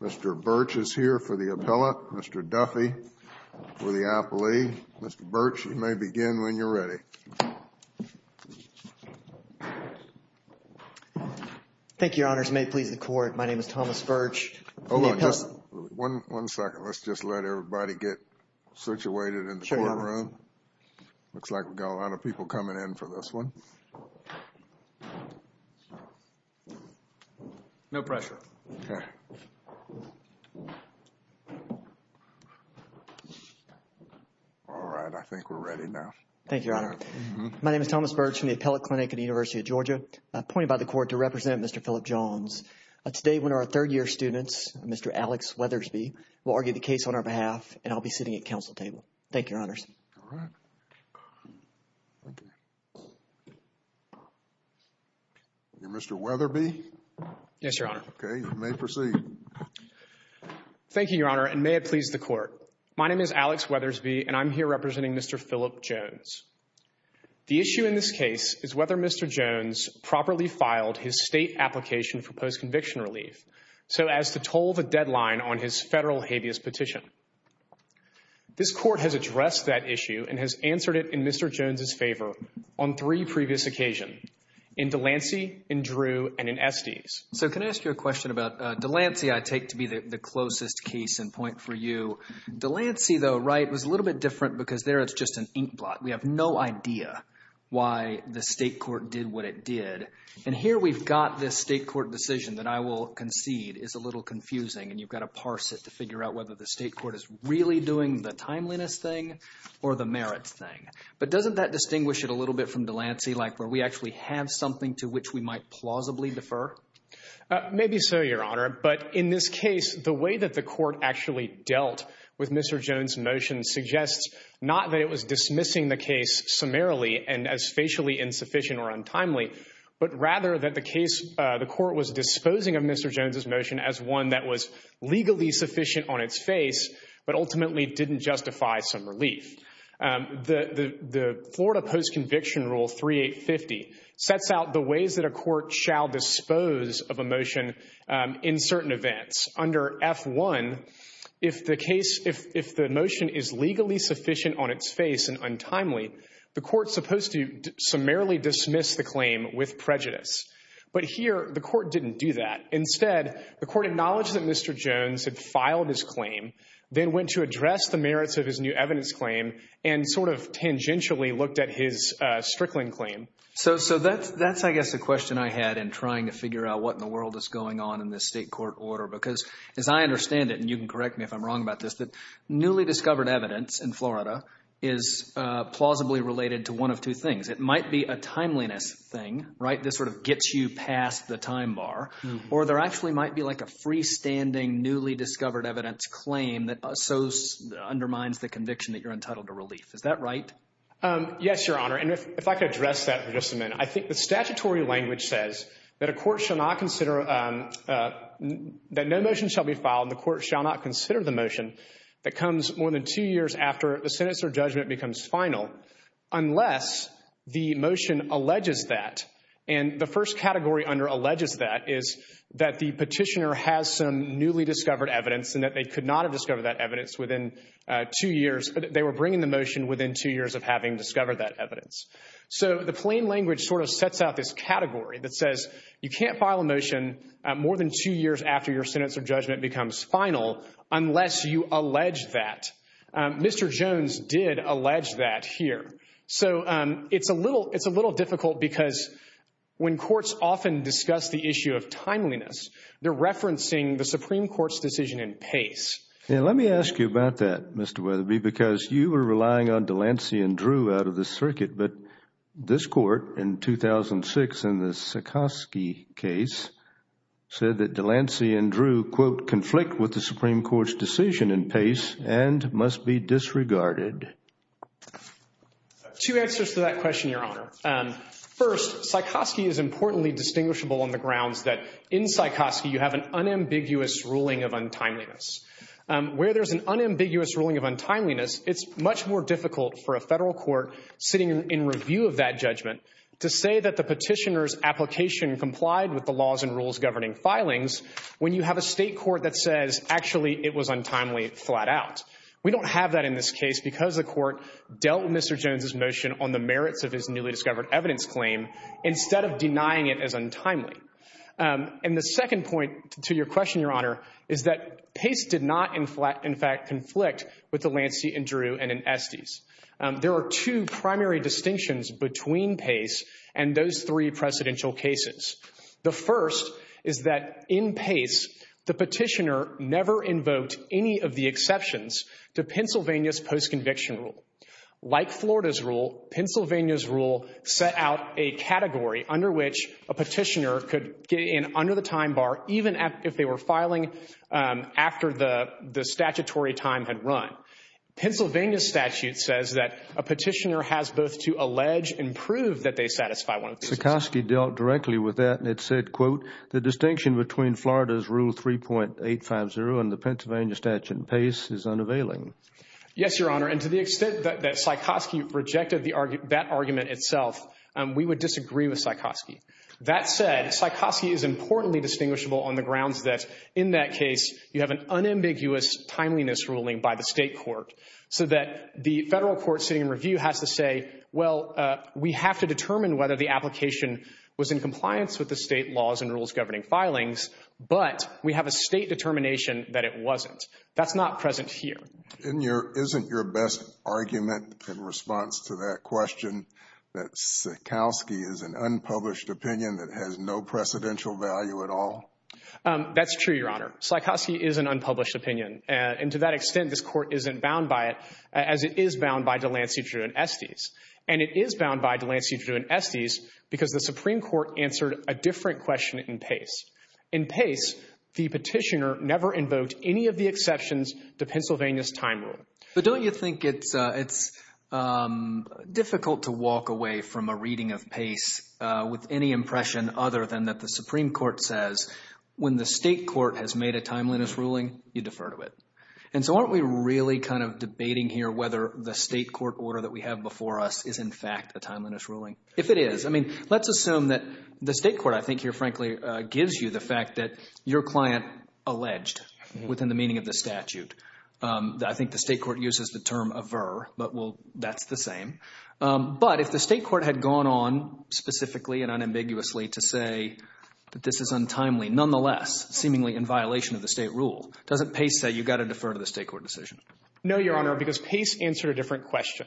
Mr. Birch is here for the appellate. Mr. Duffy for the appellee. Mr. Birch, you may begin when you're ready. Thank you, Your Honors. May it please the Court, my name is Thomas Birch. Hold on just one second. Let's just let everybody get situated in the courtroom. Looks like we've got a lot of people coming in. We've got a lot of people coming in for this one. No pressure. All right, I think we're ready now. Thank you, Your Honor. My name is Thomas Birch from the Appellate Clinic at the University of Georgia. Appointed by the Court to represent Mr. Philip Jones. Today, one of our third-year students, Mr. Alex Weathersby, will argue the case on our behalf, and I'll be sitting at counsel table. Thank you, Your Honors. Mr. Weathersby. Yes, Your Honor. Okay, you may proceed. Thank you, Your Honor, and may it please the Court. My name is Alex Weathersby, and I'm here representing Mr. Philip Jones. The issue in this case is whether Mr. Jones properly filed his state application for post-conviction relief, so as to toll the deadline on his federal habeas petition. This Court has addressed that issue and has answered it in Mr. Jones' favor on three previous occasions, in Delancey, in Drew, and in Estes. So can I ask you a question about Delancey? I take to be the closest case in point for you. Delancey, though, right, was a little bit different because there it's just an inkblot. We have no idea why the state court did what it did, and here we've got this state court decision that I will concede is a little confusing, and you've got to parse it to figure out whether the state court is really doing the timeliness thing or the merits thing. But doesn't that distinguish it a little bit from Delancey, like where we actually have something to which we might plausibly defer? Maybe so, Your Honor, but in this case, the way that the Court actually dealt with Mr. Jones' motion suggests not that it was dismissing the case summarily and as facially insufficient or untimely, but rather that the court was disposing of Mr. Jones' motion as one that was legally sufficient on its face but ultimately didn't justify some relief. The Florida Post-Conviction Rule 3850 sets out the ways that a court shall dispose of a motion in certain events. Under F-1, if the motion is legally sufficient on its face and untimely, the court is supposed to summarily dismiss the claim with prejudice. But here, the court didn't do that. Instead, the court acknowledged that Mr. Jones had filed his claim, then went to address the merits of his new evidence claim, and sort of tangentially looked at his Strickland claim. So that's, I guess, the question I had in trying to figure out what in the world is going on in this state court order because, as I understand it, and you can correct me if I'm wrong about this, that newly discovered evidence in Florida is plausibly related to one of two things. It might be a timeliness thing, right, that sort of gets you past the time bar, or there actually might be like a freestanding newly discovered evidence claim that undermines the conviction that you're entitled to relief. Is that right? Yes, Your Honor, and if I could address that for just a minute. I think the statutory language says that a court shall not consider, that no motion shall be filed and the court shall not consider the motion that comes more than two years after the sentence or judgment becomes final unless the motion alleges that. And the first category under alleges that is that the petitioner has some newly discovered evidence and that they could not have discovered that evidence within two years. They were bringing the motion within two years of having discovered that evidence. So the plain language sort of sets out this category that says you can't file a motion more than two years after your sentence or judgment becomes final unless you allege that. Mr. Jones did allege that here. So it's a little difficult because when courts often discuss the issue of timeliness, they're referencing the Supreme Court's decision in pace. Yeah, let me ask you about that, Mr. Weatherby, because you were relying on Delancey and Drew out of the circuit, but this court in 2006 in the Sykoski case said that Delancey and Drew, quote, conflict with the Supreme Court's decision in pace and must be disregarded. Two answers to that question, Your Honor. First, Sykoski is importantly distinguishable on the grounds that in Sykoski you have an unambiguous ruling of untimeliness. Where there's an unambiguous ruling of untimeliness, it's much more difficult for a federal court sitting in review of that judgment to say that the petitioner's application complied with the laws and rules governing filings when you have a state court that says actually it was untimely flat out. We don't have that in this case because the court dealt with Mr. Jones' motion on the merits of his newly discovered evidence claim instead of denying it as untimely. And the second point to your question, Your Honor, is that Pace did not in fact conflict with Delancey and Drew and Estes. There are two primary distinctions between Pace and those three precedential cases. The first is that in Pace the petitioner never invoked any of the exceptions to Pennsylvania's post-conviction rule. Like Florida's rule, Pennsylvania's rule set out a category under which a petitioner could get in under the time bar even if they were filing after the statutory time had run. Pennsylvania's statute says that a petitioner has both to allege and prove that they satisfy one of these. Sikosky dealt directly with that and it said, quote, the distinction between Florida's rule 3.850 and the Pennsylvania statute in Pace is unavailing. Yes, Your Honor, and to the extent that Sikosky rejected that argument itself, we would disagree with Sikosky. That said, Sikosky is importantly distinguishable on the grounds that in that case you have an unambiguous timeliness ruling by the state court, so that the federal court sitting in review has to say, well, we have to determine whether the application was in compliance with the state laws and rules governing filings, but we have a state determination that it wasn't. That's not present here. Isn't your best argument in response to that question that Sikosky is an unpublished opinion that has no precedential value at all? That's true, Your Honor. Sikosky is an unpublished opinion, and to that extent, this court isn't bound by it as it is bound by DeLancey, Drew, and Estes. And it is bound by DeLancey, Drew, and Estes because the Supreme Court answered a different question in Pace. In Pace, the petitioner never invoked any of the exceptions to Pennsylvania's time rule. But don't you think it's difficult to walk away from a reading of Pace with any impression other than that the Supreme Court says when the state court has made a timeliness ruling, you defer to it? And so aren't we really kind of debating here whether the state court order that we have before us is in fact a timeliness ruling? If it is. I mean, let's assume that the state court, I think here, frankly, gives you the fact that your client alleged within the meaning of the statute. I think the state court uses the term aver, but, well, that's the same. But if the state court had gone on specifically and unambiguously to say that this is untimely, nonetheless seemingly in violation of the state rule, doesn't Pace say you've got to defer to the state court decision? No, Your Honor, because Pace answered a different question.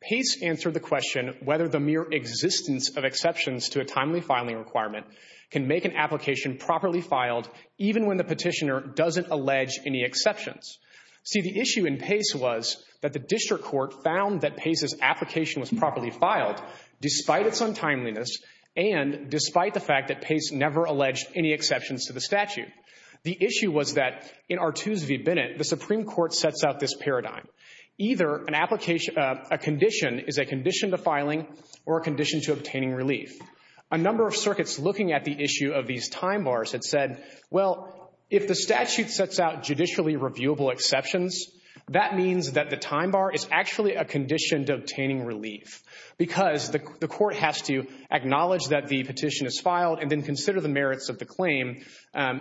Pace answered the question whether the mere existence of exceptions to a timely filing requirement can make an application properly filed even when the petitioner doesn't allege any exceptions. See, the issue in Pace was that the district court found that Pace's application was properly filed despite its untimeliness and despite the fact that Pace never alleged any exceptions to the statute. The issue was that in Artuse v. Bennett, the Supreme Court sets out this paradigm. Either a condition is a condition to filing or a condition to obtaining relief. A number of circuits looking at the issue of these time bars had said, well, if the statute sets out judicially reviewable exceptions, that means that the time bar is actually a condition to obtaining relief because the court has to acknowledge that the petition is filed and then consider the merits of the claim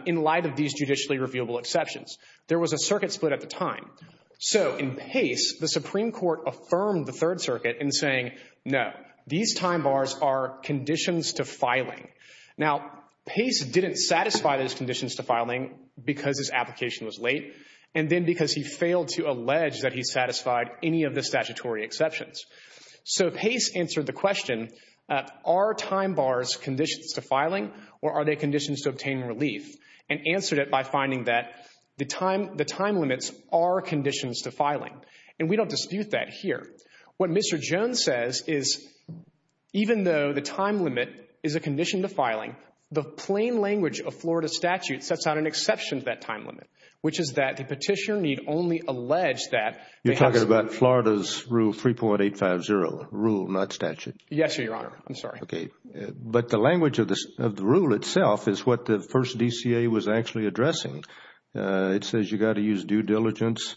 in light of these judicially reviewable exceptions. There was a circuit split at the time. So in Pace, the Supreme Court affirmed the Third Circuit in saying, no, these time bars are conditions to filing. Now, Pace didn't satisfy those conditions to filing because his application was late and then because he failed to allege that he satisfied any of the statutory exceptions. So Pace answered the question, are time bars conditions to filing or are they conditions to obtaining relief? And answered it by finding that the time limits are conditions to filing. And we don't dispute that here. What Mr. Jones says is, even though the time limit is a condition to filing, the plain language of Florida statute sets out an exception to that time limit, which is that the petitioner need only allege that they have to— You're talking about Florida's Rule 3.850, rule, not statute? Yes, Your Honor. I'm sorry. But the language of the rule itself is what the first DCA was actually addressing. It says you got to use due diligence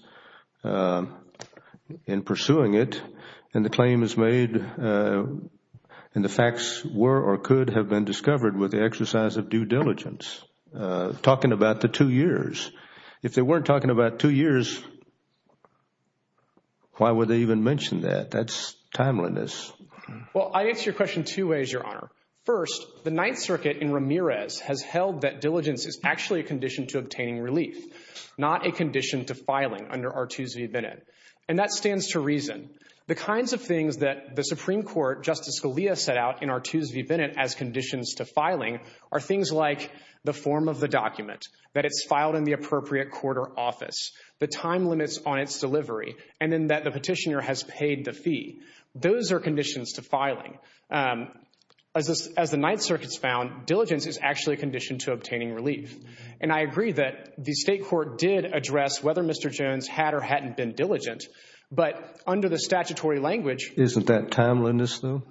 in pursuing it. And the claim is made and the facts were or could have been discovered with the exercise of due diligence, talking about the two years. If they weren't talking about two years, why would they even mention that? That's timeliness. Well, I answer your question two ways, Your Honor. First, the Ninth Circuit in Ramirez has held that diligence is actually a condition to obtaining relief, not a condition to filing under Artus v. Bennett. And that stands to reason. The kinds of things that the Supreme Court, Justice Scalia set out in Artus v. Bennett as conditions to filing are things like the form of the document, that it's filed in the appropriate court or office, the time limits on its delivery, and then that the petitioner has paid the fee. Those are conditions to filing. As the Ninth Circuit's found, diligence is actually a condition to obtaining relief. And I agree that the state court did address whether Mr. Jones had or hadn't been diligent, but under the statutory language. Isn't that timeliness, though?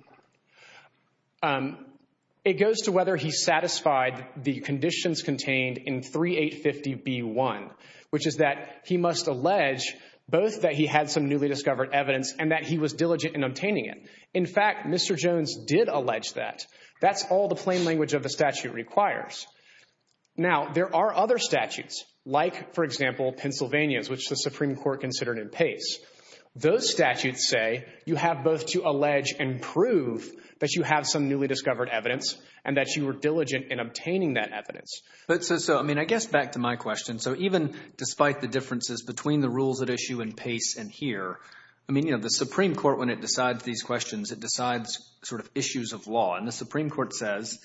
It goes to whether he satisfied the conditions contained in 3850B1, which is that he must allege both that he had some newly discovered evidence and that he was diligent in obtaining it. In fact, Mr. Jones did allege that. That's all the plain language of the statute requires. Now, there are other statutes, like, for example, Pennsylvania's, which the Supreme Court considered in Pace. Those statutes say you have both to allege and prove that you have some newly discovered evidence and that you were diligent in obtaining that evidence. So, I mean, I guess back to my question. So even despite the differences between the rules at issue in Pace and here, I mean, you know, the Supreme Court, when it decides these questions, it decides sort of issues of law. And the Supreme Court says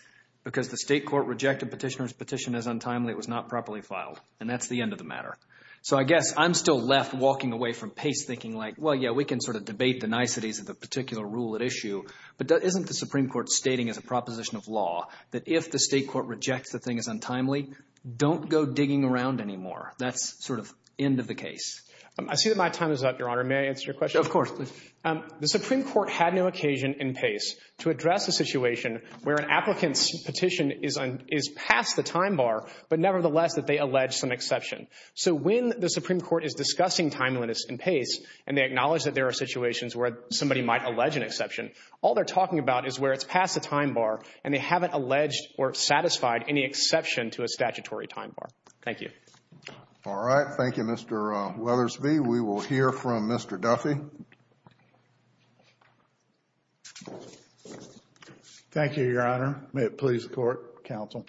because the state court rejected petitioner's petition as untimely, it was not properly filed, and that's the end of the matter. So I guess I'm still left walking away from Pace thinking, like, well, yeah, we can sort of debate the niceties of the particular rule at issue, but isn't the Supreme Court stating as a proposition of law that if the state court rejects the thing as untimely, don't go digging around anymore? That's sort of end of the case. I see that my time is up, Your Honor. May I answer your question? Of course. The Supreme Court had no occasion in Pace to address a situation where an applicant's petition is past the time bar, but nevertheless that they allege some exception. So when the Supreme Court is discussing timeliness in Pace and they acknowledge that there are situations where somebody might allege an exception, all they're talking about is where it's past the time bar and they haven't alleged or satisfied any exception to a statutory time bar. Thank you. All right. Thank you, Mr. Weathersby. We will hear from Mr. Duffy. Thank you, Your Honor. May it please the Court, Counsel.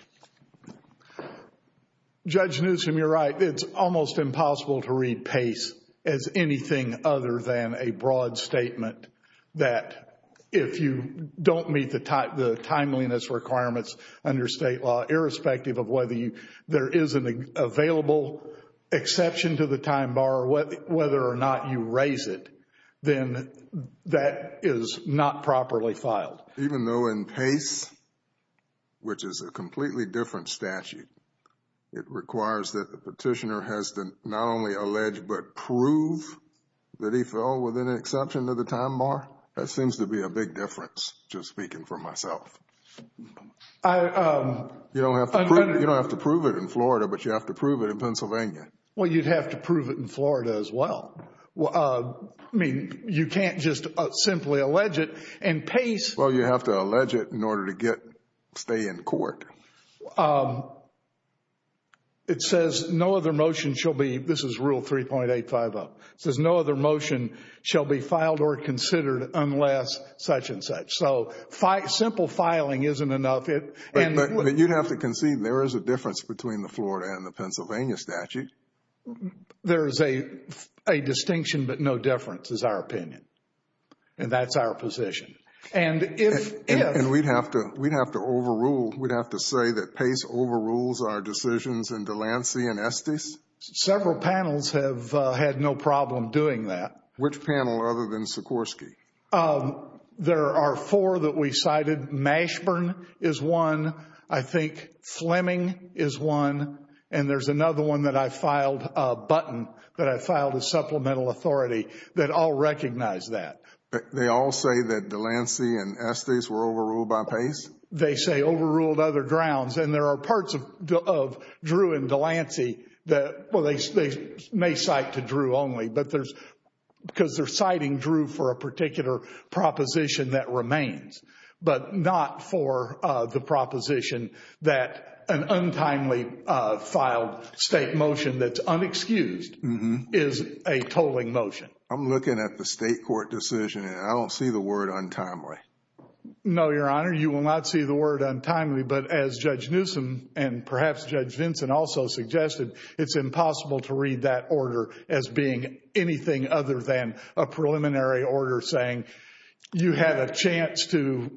Judge Newsom, you're right. It's almost impossible to read Pace as anything other than a broad statement that if you don't meet the timeliness requirements under state law, irrespective of whether there is an available exception to the time bar or whether or not you raise it, then that is not properly filed. Even though in Pace, which is a completely different statute, it requires that the petitioner has to not only allege but prove that he fell within an exception to the time bar. That seems to be a big difference, just speaking for myself. You don't have to prove it in Florida, but you have to prove it in Pennsylvania. Well, you'd have to prove it in Florida as well. I mean, you can't just simply allege it in Pace. Well, you have to allege it in order to stay in court. It says no other motion shall be, this is rule 3.85-0. It says no other motion shall be filed or considered unless such and such. So simple filing isn't enough. But you'd have to concede there is a difference between the Florida and the Pennsylvania statute. There is a distinction, but no difference is our opinion. And that's our position. And we'd have to overrule. We'd have to say that Pace overrules our decisions in Delancey and Estes. Several panels have had no problem doing that. Which panel other than Sikorsky? There are four that we cited. Mashburn is one. I think Fleming is one. And there's another one that I filed, Button, that I filed as supplemental authority that all recognize that. They all say that Delancey and Estes were overruled by Pace? They say overruled other grounds. And there are parts of Drew and Delancey that they may cite to Drew only because they're citing Drew for a particular proposition that remains, but not for the proposition that an untimely filed state motion that's unexcused is a tolling motion. I'm looking at the state court decision, and I don't see the word untimely. No, Your Honor, you will not see the word untimely. But as Judge Newsom and perhaps Judge Vinson also suggested, it's impossible to read that order as being anything other than a preliminary order saying you have a chance to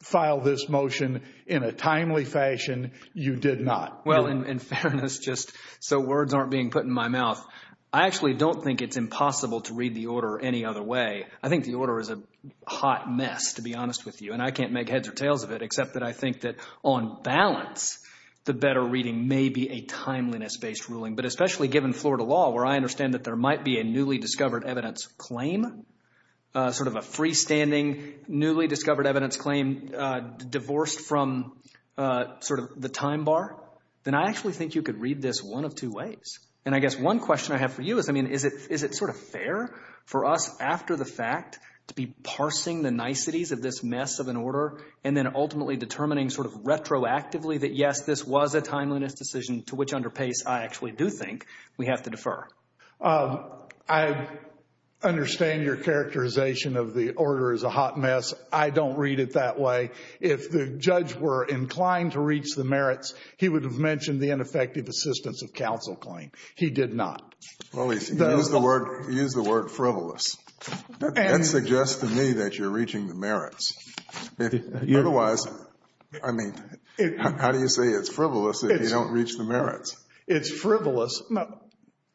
file this motion in a timely fashion. You did not. Well, in fairness, just so words aren't being put in my mouth, I actually don't think it's impossible to read the order any other way. I think the order is a hot mess, to be honest with you. And I can't make heads or tails of it except that I think that on balance, the better reading may be a timeliness-based ruling. But especially given Florida law, where I understand that there might be a newly discovered evidence claim, sort of a freestanding newly discovered evidence claim divorced from sort of the time bar, then I actually think you could read this one of two ways. And I guess one question I have for you is, I mean, is it sort of fair for us after the fact to be parsing the niceties of this mess of an order and then ultimately determining sort of retroactively that, yes, this was a timeliness decision to which under pace I actually do think we have to defer? I understand your characterization of the order as a hot mess. I don't read it that way. If the judge were inclined to reach the merits, he would have mentioned the ineffective assistance of counsel claim. He did not. Well, he used the word frivolous. That suggests to me that you're reaching the merits. Otherwise, I mean, how do you say it's frivolous if you don't reach the merits? It's frivolous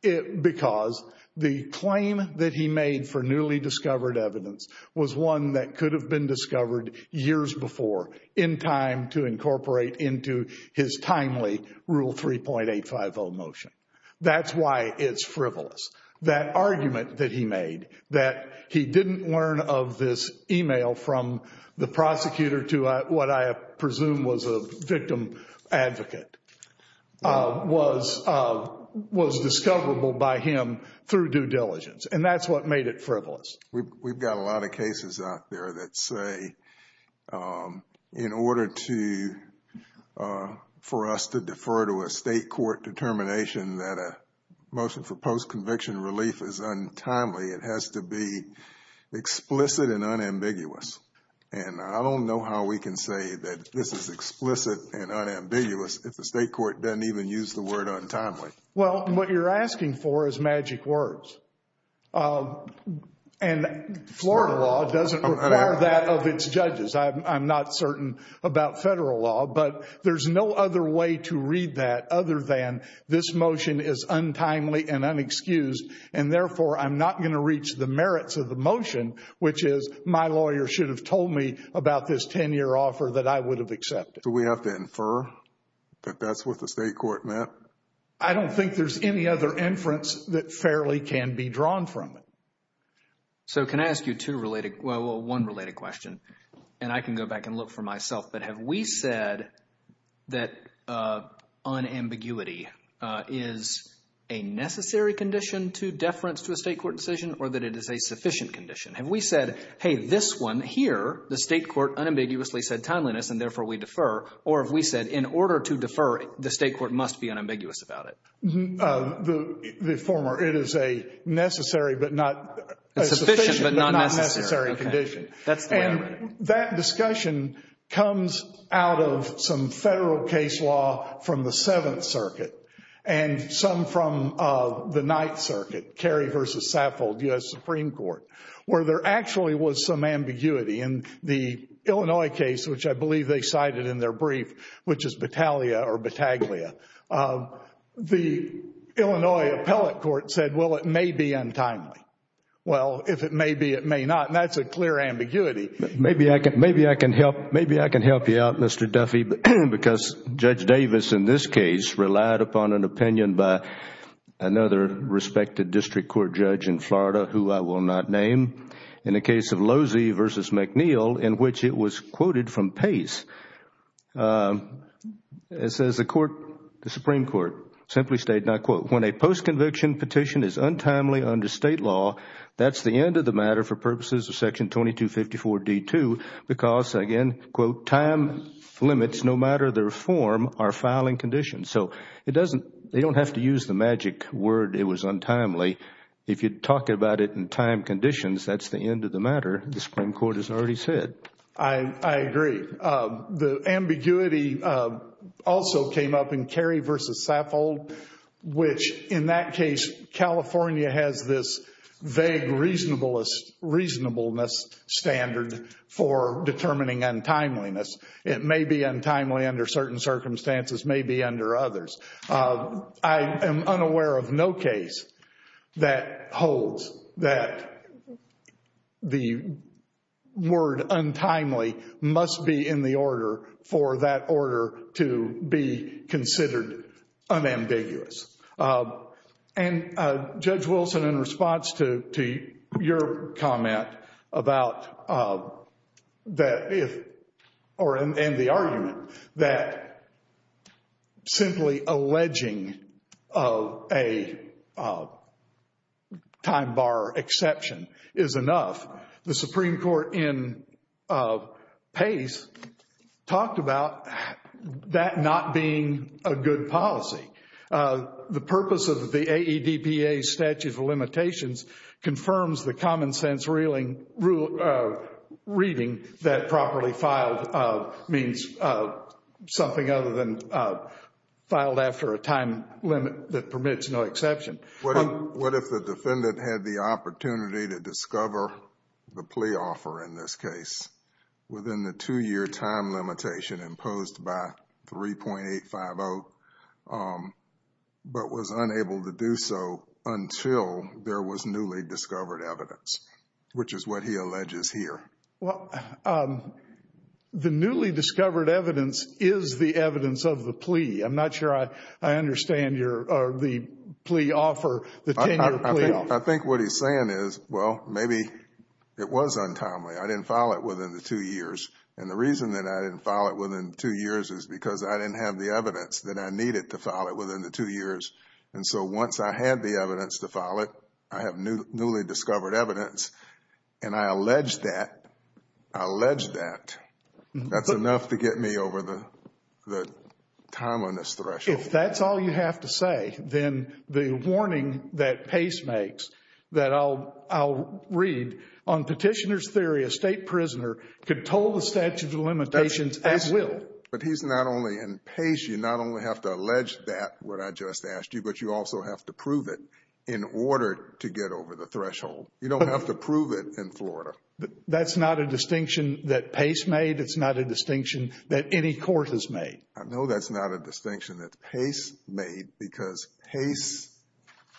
because the claim that he made for newly discovered evidence was one that could have been discovered years before in time to incorporate into his timely Rule 3.850 motion. That's why it's frivolous. That argument that he made that he didn't learn of this e-mail from the prosecutor to what I presume was a victim advocate was discoverable by him through due diligence, and that's what made it frivolous. We've got a lot of cases out there that say in order for us to defer to a judge's conviction, relief is untimely. It has to be explicit and unambiguous, and I don't know how we can say that this is explicit and unambiguous if the state court doesn't even use the word untimely. Well, what you're asking for is magic words, and Florida law doesn't require that of its judges. I'm not certain about federal law, but there's no other way to read that other than this motion is untimely and unexcused, and therefore I'm not going to reach the merits of the motion, which is my lawyer should have told me about this 10-year offer that I would have accepted. Do we have to infer that that's what the state court meant? I don't think there's any other inference that fairly can be drawn from it. So can I ask you two related, well, one related question, and I can go back and look for myself, but have we said that unambiguity is a necessary condition to deference to a state court decision or that it is a sufficient condition? Have we said, hey, this one here, the state court unambiguously said timeliness and therefore we defer, or have we said in order to defer, the state court must be unambiguous about it? The former. It is a necessary but not a sufficient but not necessary condition. That discussion comes out of some federal case law from the Seventh Circuit and some from the Ninth Circuit, Kerry v. Saffold, U.S. Supreme Court, where there actually was some ambiguity. In the Illinois case, which I believe they cited in their brief, which is Battaglia, the Illinois appellate court said, well, it may be untimely. Well, if it may be, it may not, and that is a clear ambiguity. Maybe I can help you out, Mr. Duffy, because Judge Davis in this case relied upon an opinion by another respected district court judge in Florida, who I will not name, in the case of Losey v. McNeil, in which it was quoted from Pace. It says the Supreme Court simply stated, and I quote, when a post-conviction petition is untimely under state law, that's the end of the matter for purposes of Section 2254D2 because, again, quote, time limits, no matter their form, are fouling conditions. So they don't have to use the magic word it was untimely. If you talk about it in time conditions, that's the end of the matter. The Supreme Court has already said. I agree. The ambiguity also came up in Carey v. Saffold, which, in that case, California has this vague reasonableness standard for determining untimeliness. It may be untimely under certain circumstances, may be under others. I am unaware of no case that holds that the word untimely must be in the order for that order to be considered unambiguous. And Judge Wilson, in response to your comment about that, and the argument that simply alleging a time bar exception is enough, the Supreme Court in Pace talked about that not being a good policy. The purpose of the AEDPA Statute of Limitations confirms the common sense reading that properly filed means something other than filed after a time limit that permits no exception. What if the defendant had the opportunity to discover the plea offer, in this case, within the two-year time limitation imposed by 3.850, but was unable to do so until there was newly discovered evidence, which is what he alleges here? Well, the newly discovered evidence is the evidence of the plea. I'm not sure I understand the plea offer, the 10-year plea offer. I think what he's saying is, well, maybe it was untimely. I didn't file it within the two years. And the reason that I didn't file it within the two years is because I didn't have the evidence that I needed to file it within the two years. And so once I had the evidence to file it, I have newly discovered evidence, and I allege that. I allege that. That's enough to get me over the time on this threshold. If that's all you have to say, then the warning that Pace makes that I'll read, on Petitioner's Theory, a state prisoner could toll the statute of limitations at will. But he's not only – and, Pace, you not only have to allege that, what I just asked you, but you also have to prove it in order to get over the threshold. You don't have to prove it in Florida. That's not a distinction that Pace made. It's not a distinction that any court has made. I know that's not a distinction that Pace made because Pace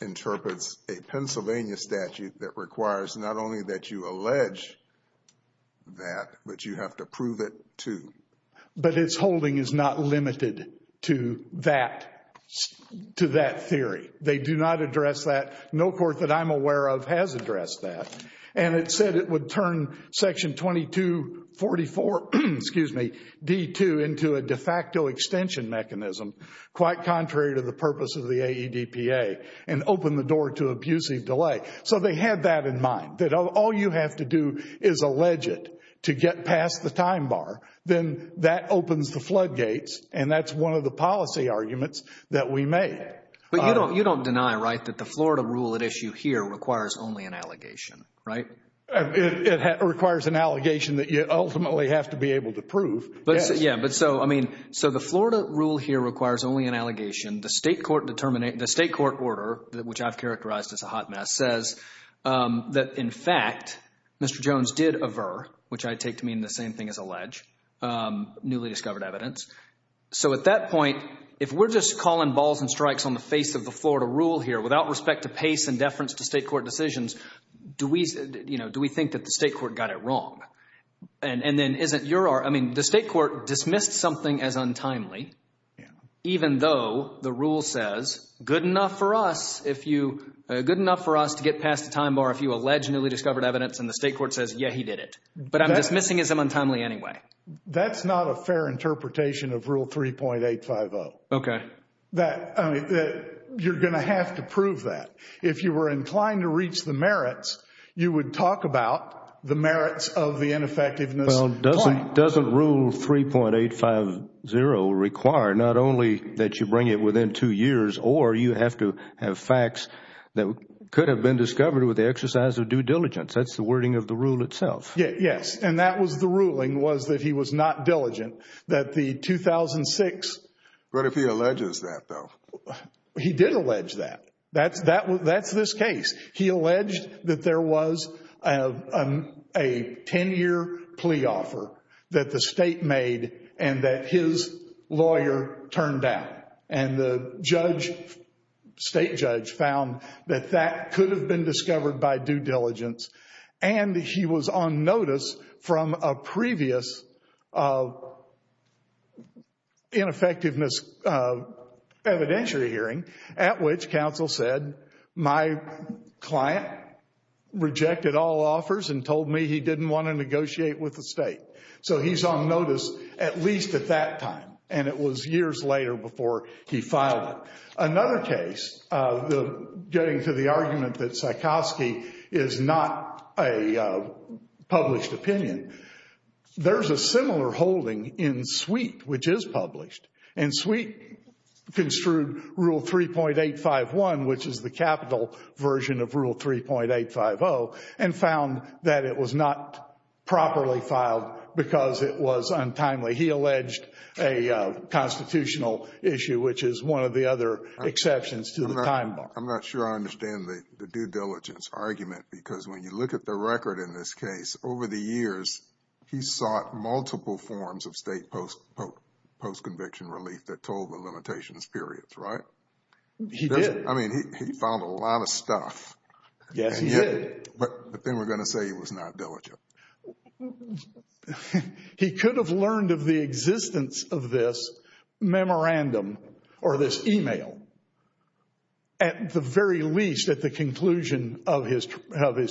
interprets a Pennsylvania statute that requires not only that you allege that, but you have to prove it, too. But its holding is not limited to that theory. They do not address that. No court that I'm aware of has addressed that. And it said it would turn Section 2244D2 into a de facto extension mechanism, quite contrary to the purpose of the AEDPA, and open the door to abusive delay. So they had that in mind, that all you have to do is allege it to get past the time bar. Then that opens the floodgates, and that's one of the policy arguments that we made. But you don't deny, right, that the Florida rule at issue here requires only an allegation, right? It requires an allegation that you ultimately have to be able to prove, yes. Yeah, but so, I mean, so the Florida rule here requires only an allegation. The state court order, which I've characterized as a hot mess, says that, in fact, Mr. Jones did aver, which I take to mean the same thing as allege, newly discovered evidence. So at that point, if we're just calling balls and strikes on the face of the Florida rule here without respect to Pace and deference to state court decisions, do we think that the state court got it wrong? And then isn't your, I mean, the state court dismissed something as untimely, even though the rule says good enough for us if you, good enough for us to get past the time bar if you allege newly discovered evidence, and the state court says, yeah, he did it. But I'm dismissing it as untimely anyway. That's not a fair interpretation of Rule 3.850. Okay. That, I mean, you're going to have to prove that. If you were inclined to reach the merits, you would talk about the merits of the ineffectiveness. Well, doesn't Rule 3.850 require not only that you bring it within two years, or you have to have facts that could have been discovered with the exercise of due diligence? That's the wording of the rule itself. Yes, and that was the ruling was that he was not diligent, that the 2006. What if he alleges that, though? He did allege that. That's this case. He alleged that there was a 10-year plea offer that the state made and that his lawyer turned down, and the judge, state judge, found that that could have been discovered by due diligence, and he was on notice from a previous ineffectiveness evidentiary hearing at which counsel said, my client rejected all offers and told me he didn't want to negotiate with the state. So he's on notice at least at that time, and it was years later before he filed it. Another case, getting to the argument that Sikowsky is not a published opinion, there's a similar holding in Sweet, which is published, and Sweet construed Rule 3.851, which is the capital version of Rule 3.850, and found that it was not properly filed because it was untimely. He alleged a constitutional issue, which is one of the other exceptions to the time bar. I'm not sure I understand the due diligence argument because when you look at the record in this case, over the years, he sought multiple forms of state post-conviction relief that told the limitations periods, right? He did. I mean, he found a lot of stuff. Yes, he did. But then we're going to say he was not diligent. He could have learned of the existence of this memorandum or this email at the very least at the conclusion of his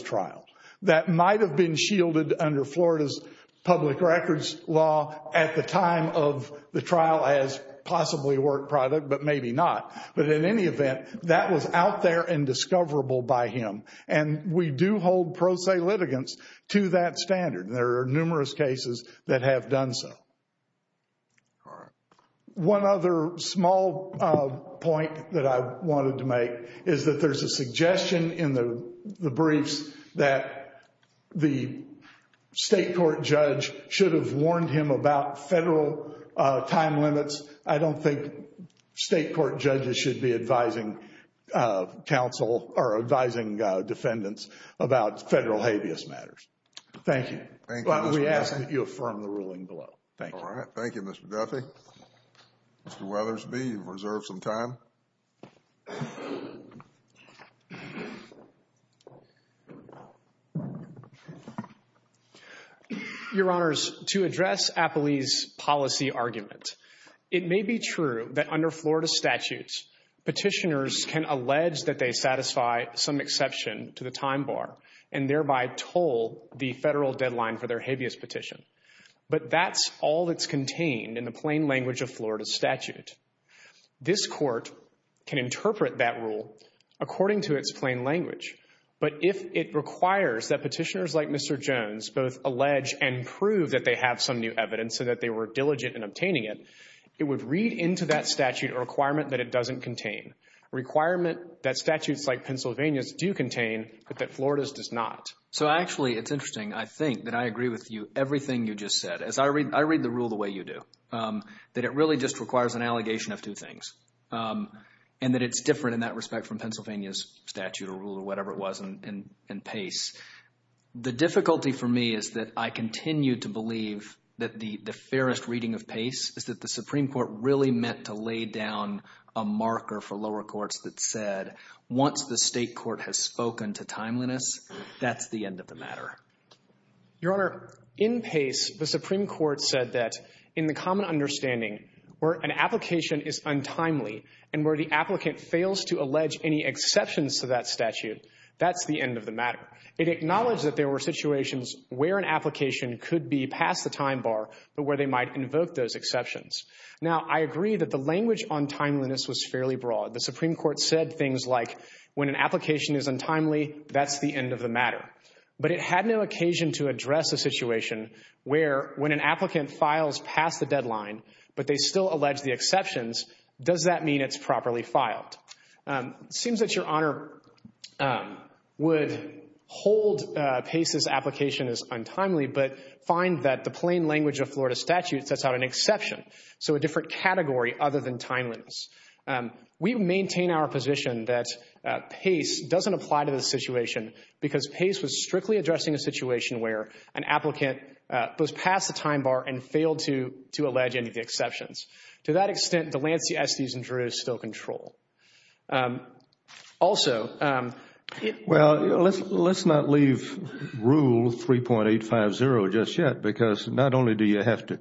trial. That might have been shielded under Florida's public records law at the time of the trial as possibly a work product, but maybe not. But in any event, that was out there and discoverable by him. And we do hold pro se litigants to that standard. There are numerous cases that have done so. All right. One other small point that I wanted to make is that there's a suggestion in the briefs that the state court judge should have warned him about federal time limits. Because I don't think state court judges should be advising counsel or advising defendants about federal habeas matters. Thank you. Thank you, Mr. Duffy. We ask that you affirm the ruling below. Thank you. All right. Thank you, Mr. Duffy. Mr. Weathersby, you've reserved some time. Your Honors, to address Apley's policy argument, it may be true that under Florida statutes, petitioners can allege that they satisfy some exception to the time bar and thereby toll the federal deadline for their habeas petition. But that's all that's contained in the plain language of Florida statute. This court can interpret that rule according to its plain language. But if it requires that petitioners like Mr. Jones both allege and prove that they have some new evidence so that they were diligent in obtaining it, it would read into that statute a requirement that it doesn't contain, a requirement that statutes like Pennsylvania's do contain but that Florida's does not. So, actually, it's interesting, I think, that I agree with you, everything you just said. As I read the rule the way you do, that it really just requires an allegation of two things and that it's different in that respect from Pennsylvania's statute or rule or whatever it was in Pace. The difficulty for me is that I continue to believe that the fairest reading of Pace is that the Supreme Court really meant to lay down a marker for lower courts that said once the state court has spoken to timeliness, that's the end of the matter. Your Honor, in Pace, the Supreme Court said that in the common understanding where an application is untimely and where the applicant fails to allege any exceptions to that statute, that's the end of the matter. It acknowledged that there were situations where an application could be past the time bar but where they might invoke those exceptions. Now, I agree that the language on timeliness was fairly broad. The Supreme Court said things like when an application is untimely, that's the end of the matter. But it had no occasion to address a situation where when an applicant files past the deadline but they still allege the exceptions, does that mean it's properly filed? It seems that Your Honor would hold Pace's application as untimely but find that the plain language of Florida statutes sets out an exception, so a different category other than timeliness. We maintain our position that Pace doesn't apply to this situation because Pace was strictly addressing a situation where an applicant goes past the time bar and failed to allege any of the exceptions. To that extent, Delancey, Estes, and Drew still control. Also, it— Well, let's not leave Rule 3.850 just yet because not only do you have to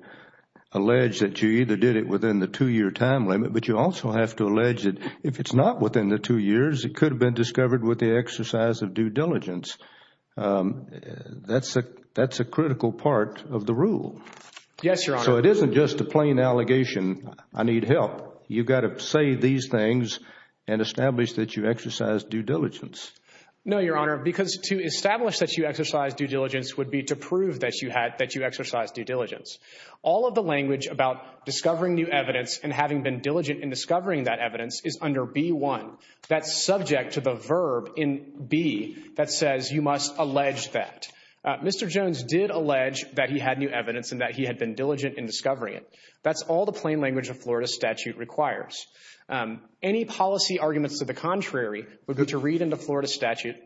allege that you either did it within the two-year time limit, but you also have to allege that if it's not within the two years, it could have been discovered with the exercise of due diligence. That's a critical part of the rule. Yes, Your Honor. So it isn't just a plain allegation, I need help. You've got to say these things and establish that you exercise due diligence. No, Your Honor, because to establish that you exercise due diligence would be to prove that you had— that you exercise due diligence. All of the language about discovering new evidence and having been diligent in discovering that evidence is under B-1. That's subject to the verb in B that says you must allege that. Mr. Jones did allege that he had new evidence and that he had been diligent in discovering it. That's all the plain language of Florida statute requires. Any policy arguments to the contrary would be to read into Florida statute—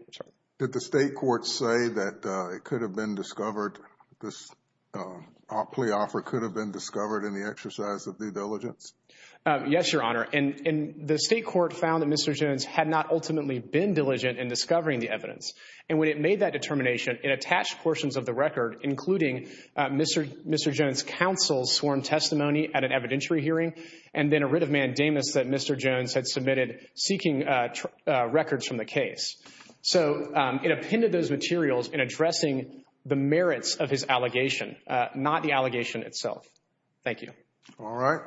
Did the state court say that it could have been discovered, this plea offer could have been discovered in the exercise of due diligence? Yes, Your Honor. And the state court found that Mr. Jones had not ultimately been diligent in discovering the evidence. And when it made that determination, it attached portions of the record, including Mr. Jones' counsel's sworn testimony at an evidentiary hearing and then a writ of mandamus that Mr. Jones had submitted seeking records from the case. So it appended those materials in addressing the merits of his allegation, not the allegation itself. Thank you. All right.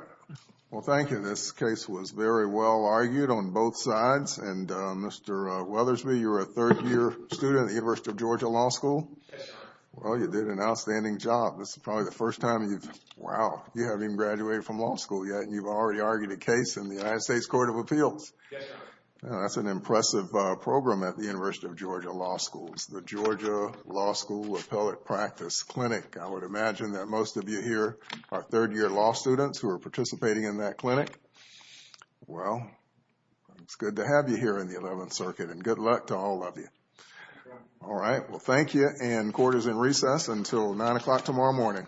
Well, thank you. This case was very well argued on both sides. And Mr. Weathersby, you're a third-year student at the University of Georgia Law School. Yes, Your Honor. Well, you did an outstanding job. This is probably the first time you've—wow, you haven't even graduated from law school yet, and you've already argued a case in the United States Court of Appeals. Yes, Your Honor. That's an impressive program at the University of Georgia Law School. It's the Georgia Law School Appellate Practice Clinic. I would imagine that most of you here are third-year law students who are participating in that clinic. Well, it's good to have you here in the Eleventh Circuit, and good luck to all of you. Thank you, Your Honor. All right. Well, thank you, and court is in recess until 9 o'clock tomorrow morning. All rise. Thank you.